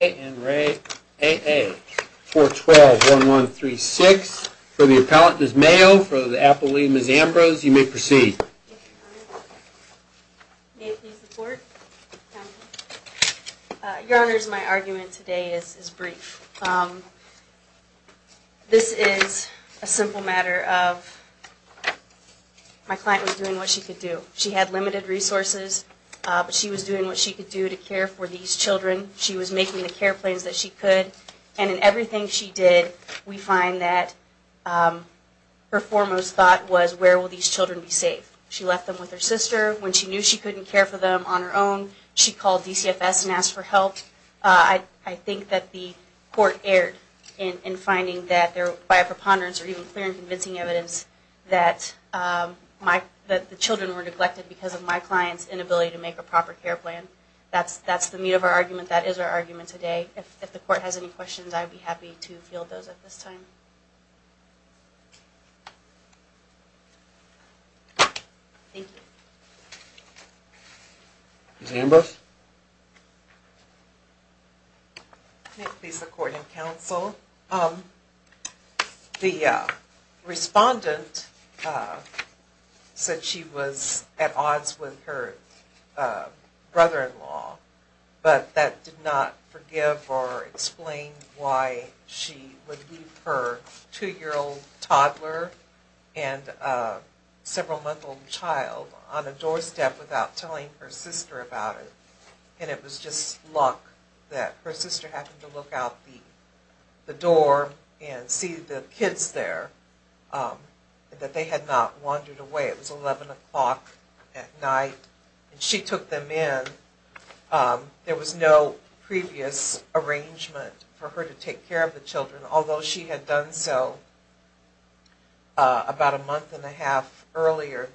412-1136. For the appellant, Ms. Mayo. For the appellate, Ms. Ambrose. You may proceed. May I please report? Your Honors, my argument today is brief. This is a simple matter of my client was doing what she could do. She had limited resources, but she was doing what she could do to care for these children. She was making the care plans that she could. And in everything she did, we find that her foremost thought was, where will these children be safe? She left them with her sister. When she knew she couldn't care for them on her own, she called DCFS and asked for help. I think that the court erred in finding that there, by a preponderance or even clear and convincing evidence, that the children were safe. That's the meat of our argument. That is our argument today. If the court has any questions, I'd be happy to field those at this time. Thank you. Ms. Ambrose? May it please the court and counsel? The respondent said she was at odds with her brother-in-law, but that did not forgive or explain why she would leave her two-year-old toddler and several-month-old child on a doorstep without telling her sister about it. And it was just luck that her sister happened to look out the door and see the kids there, that they had not wandered away. It was 11 o'clock at night, and she took them in. There was no previous arrangement for her to take care of the children, although she had done so about a month and a half earlier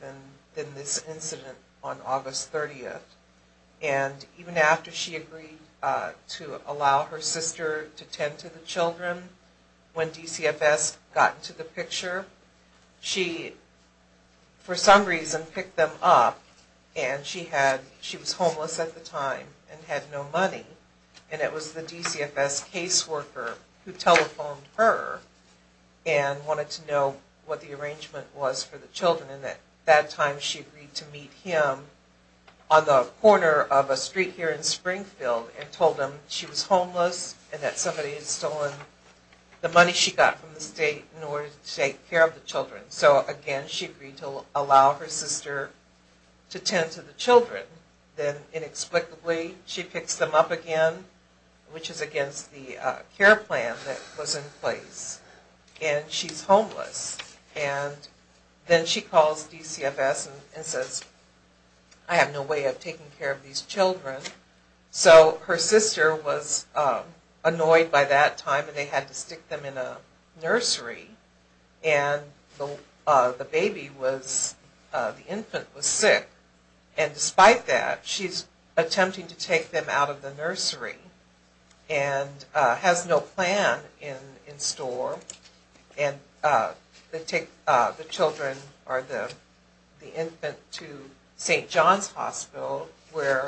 than this incident on August 30th. And even after she agreed to allow her sister to tend to the children, when DCFS got to the picture, she, for some reason, picked them up, and she was homeless at the time and had no money. And it was the DCFS caseworker who telephoned her and wanted to know what the arrangement was for the children. And at that time, she agreed to meet him on the corner of a street here in Springfield and told him she was homeless and that somebody had stolen the money she got from the state in order to take care of the children. So, again, she agreed to allow her sister to tend to the children. Then, inexplicably, she picks them up again, which is against the care plan that was in place, and she's homeless. And then she calls DCFS and says, I have no way of taking care of these children. So her sister was annoyed by that time, and they had to stick them in out of the nursery and has no plan in store. And they take the children, or the infant, to St. John's Hospital, where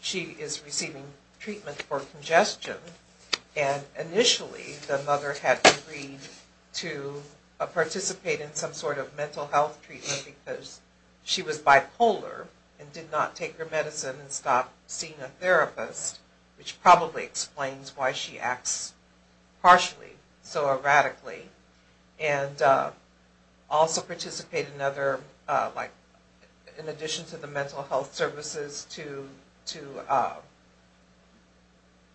she is receiving treatment for congestion. And initially, the mother had agreed to participate in some sort of mental health treatment because she was concerned about seeing a therapist, which probably explains why she acts partially so erratically. And also participate in other, like, in addition to the mental health services, to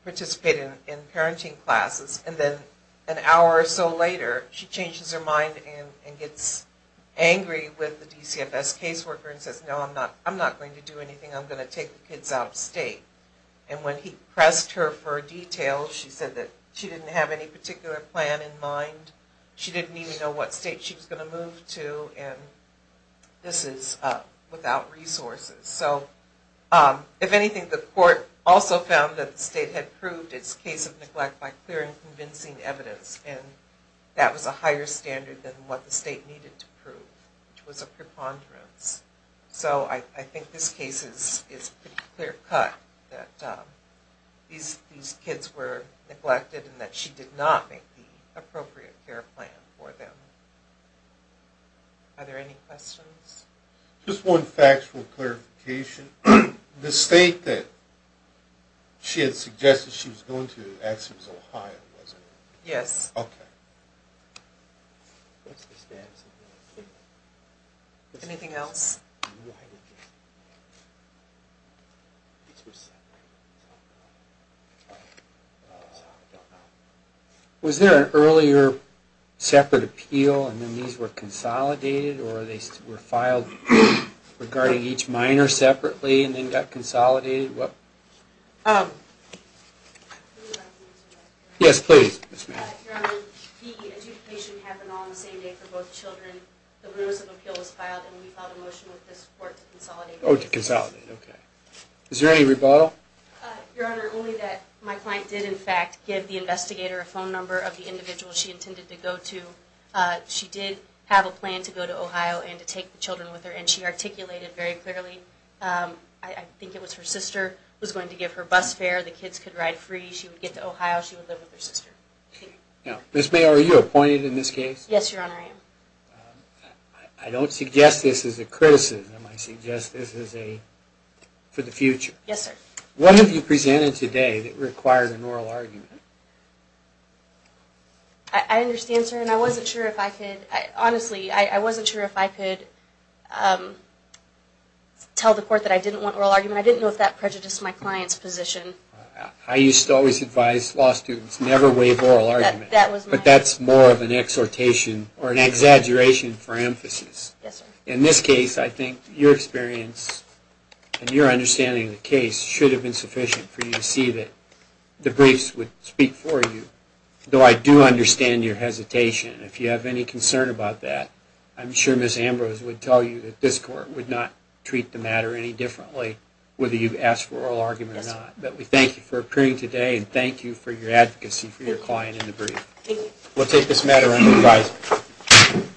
participate in parenting classes. And then an hour or so later, she changes her mind and gets angry with the DCFS caseworker and says, no, I'm not going to do anything. I'm going to take the kids out of state. And when he pressed her for details, she said that she didn't have any particular plan in mind. She didn't even know what state she was going to move to, and this is without resources. So, if anything, the court also found that the state had proved its case of neglect by clear and convincing evidence. And that was a higher standard than what the state needed to prove, which was a preponderance. So, I think this case is pretty clear-cut that these kids were neglected and that she did not make the appropriate care plan for them. Are there any questions? Just one factual clarification. The state that she had suggested she was going to actually was Ohio, wasn't it? Yes. Okay. Anything else? Was there an earlier separate appeal and then these were consolidated or they were filed regarding each minor separately and then got consolidated? Yes, please. Your Honor, the adjudication happened on the same day for both children. The remissive appeal was filed and we filed a motion with this court to consolidate. Oh, to consolidate. Okay. Is there any rebuttal? Your Honor, only that my client did, in fact, give the investigator a phone number of the individual she intended to go to. She did have a plan to go to Ohio and to take the bus fare. The kids could ride free. She would get to Ohio. She would live with her sister. Ms. Mayer, are you appointed in this case? Yes, Your Honor, I am. I don't suggest this as a criticism. I suggest this for the future. Yes, sir. What have you presented today that required an oral argument? I understand, sir, and I wasn't sure if I could, honestly, I wasn't sure if I could tell the court that I didn't want oral argument. I didn't know if that prejudiced my client's position. I used to always advise law students never waive oral arguments. That was my... But that's more of an exhortation or an exaggeration for emphasis. Yes, sir. In this case, I think your experience and your understanding of the case should have been sufficient for you to see that the briefs would speak for you, though I do understand your hesitation. If you have any concern about that, I'm sure Ms. Ambrose would tell you that this court would not treat the matter any differently, whether you've asked for oral argument or not. Yes, sir. But we thank you for appearing today, and thank you for your advocacy for your client in the brief. Thank you. We'll take this matter under revising.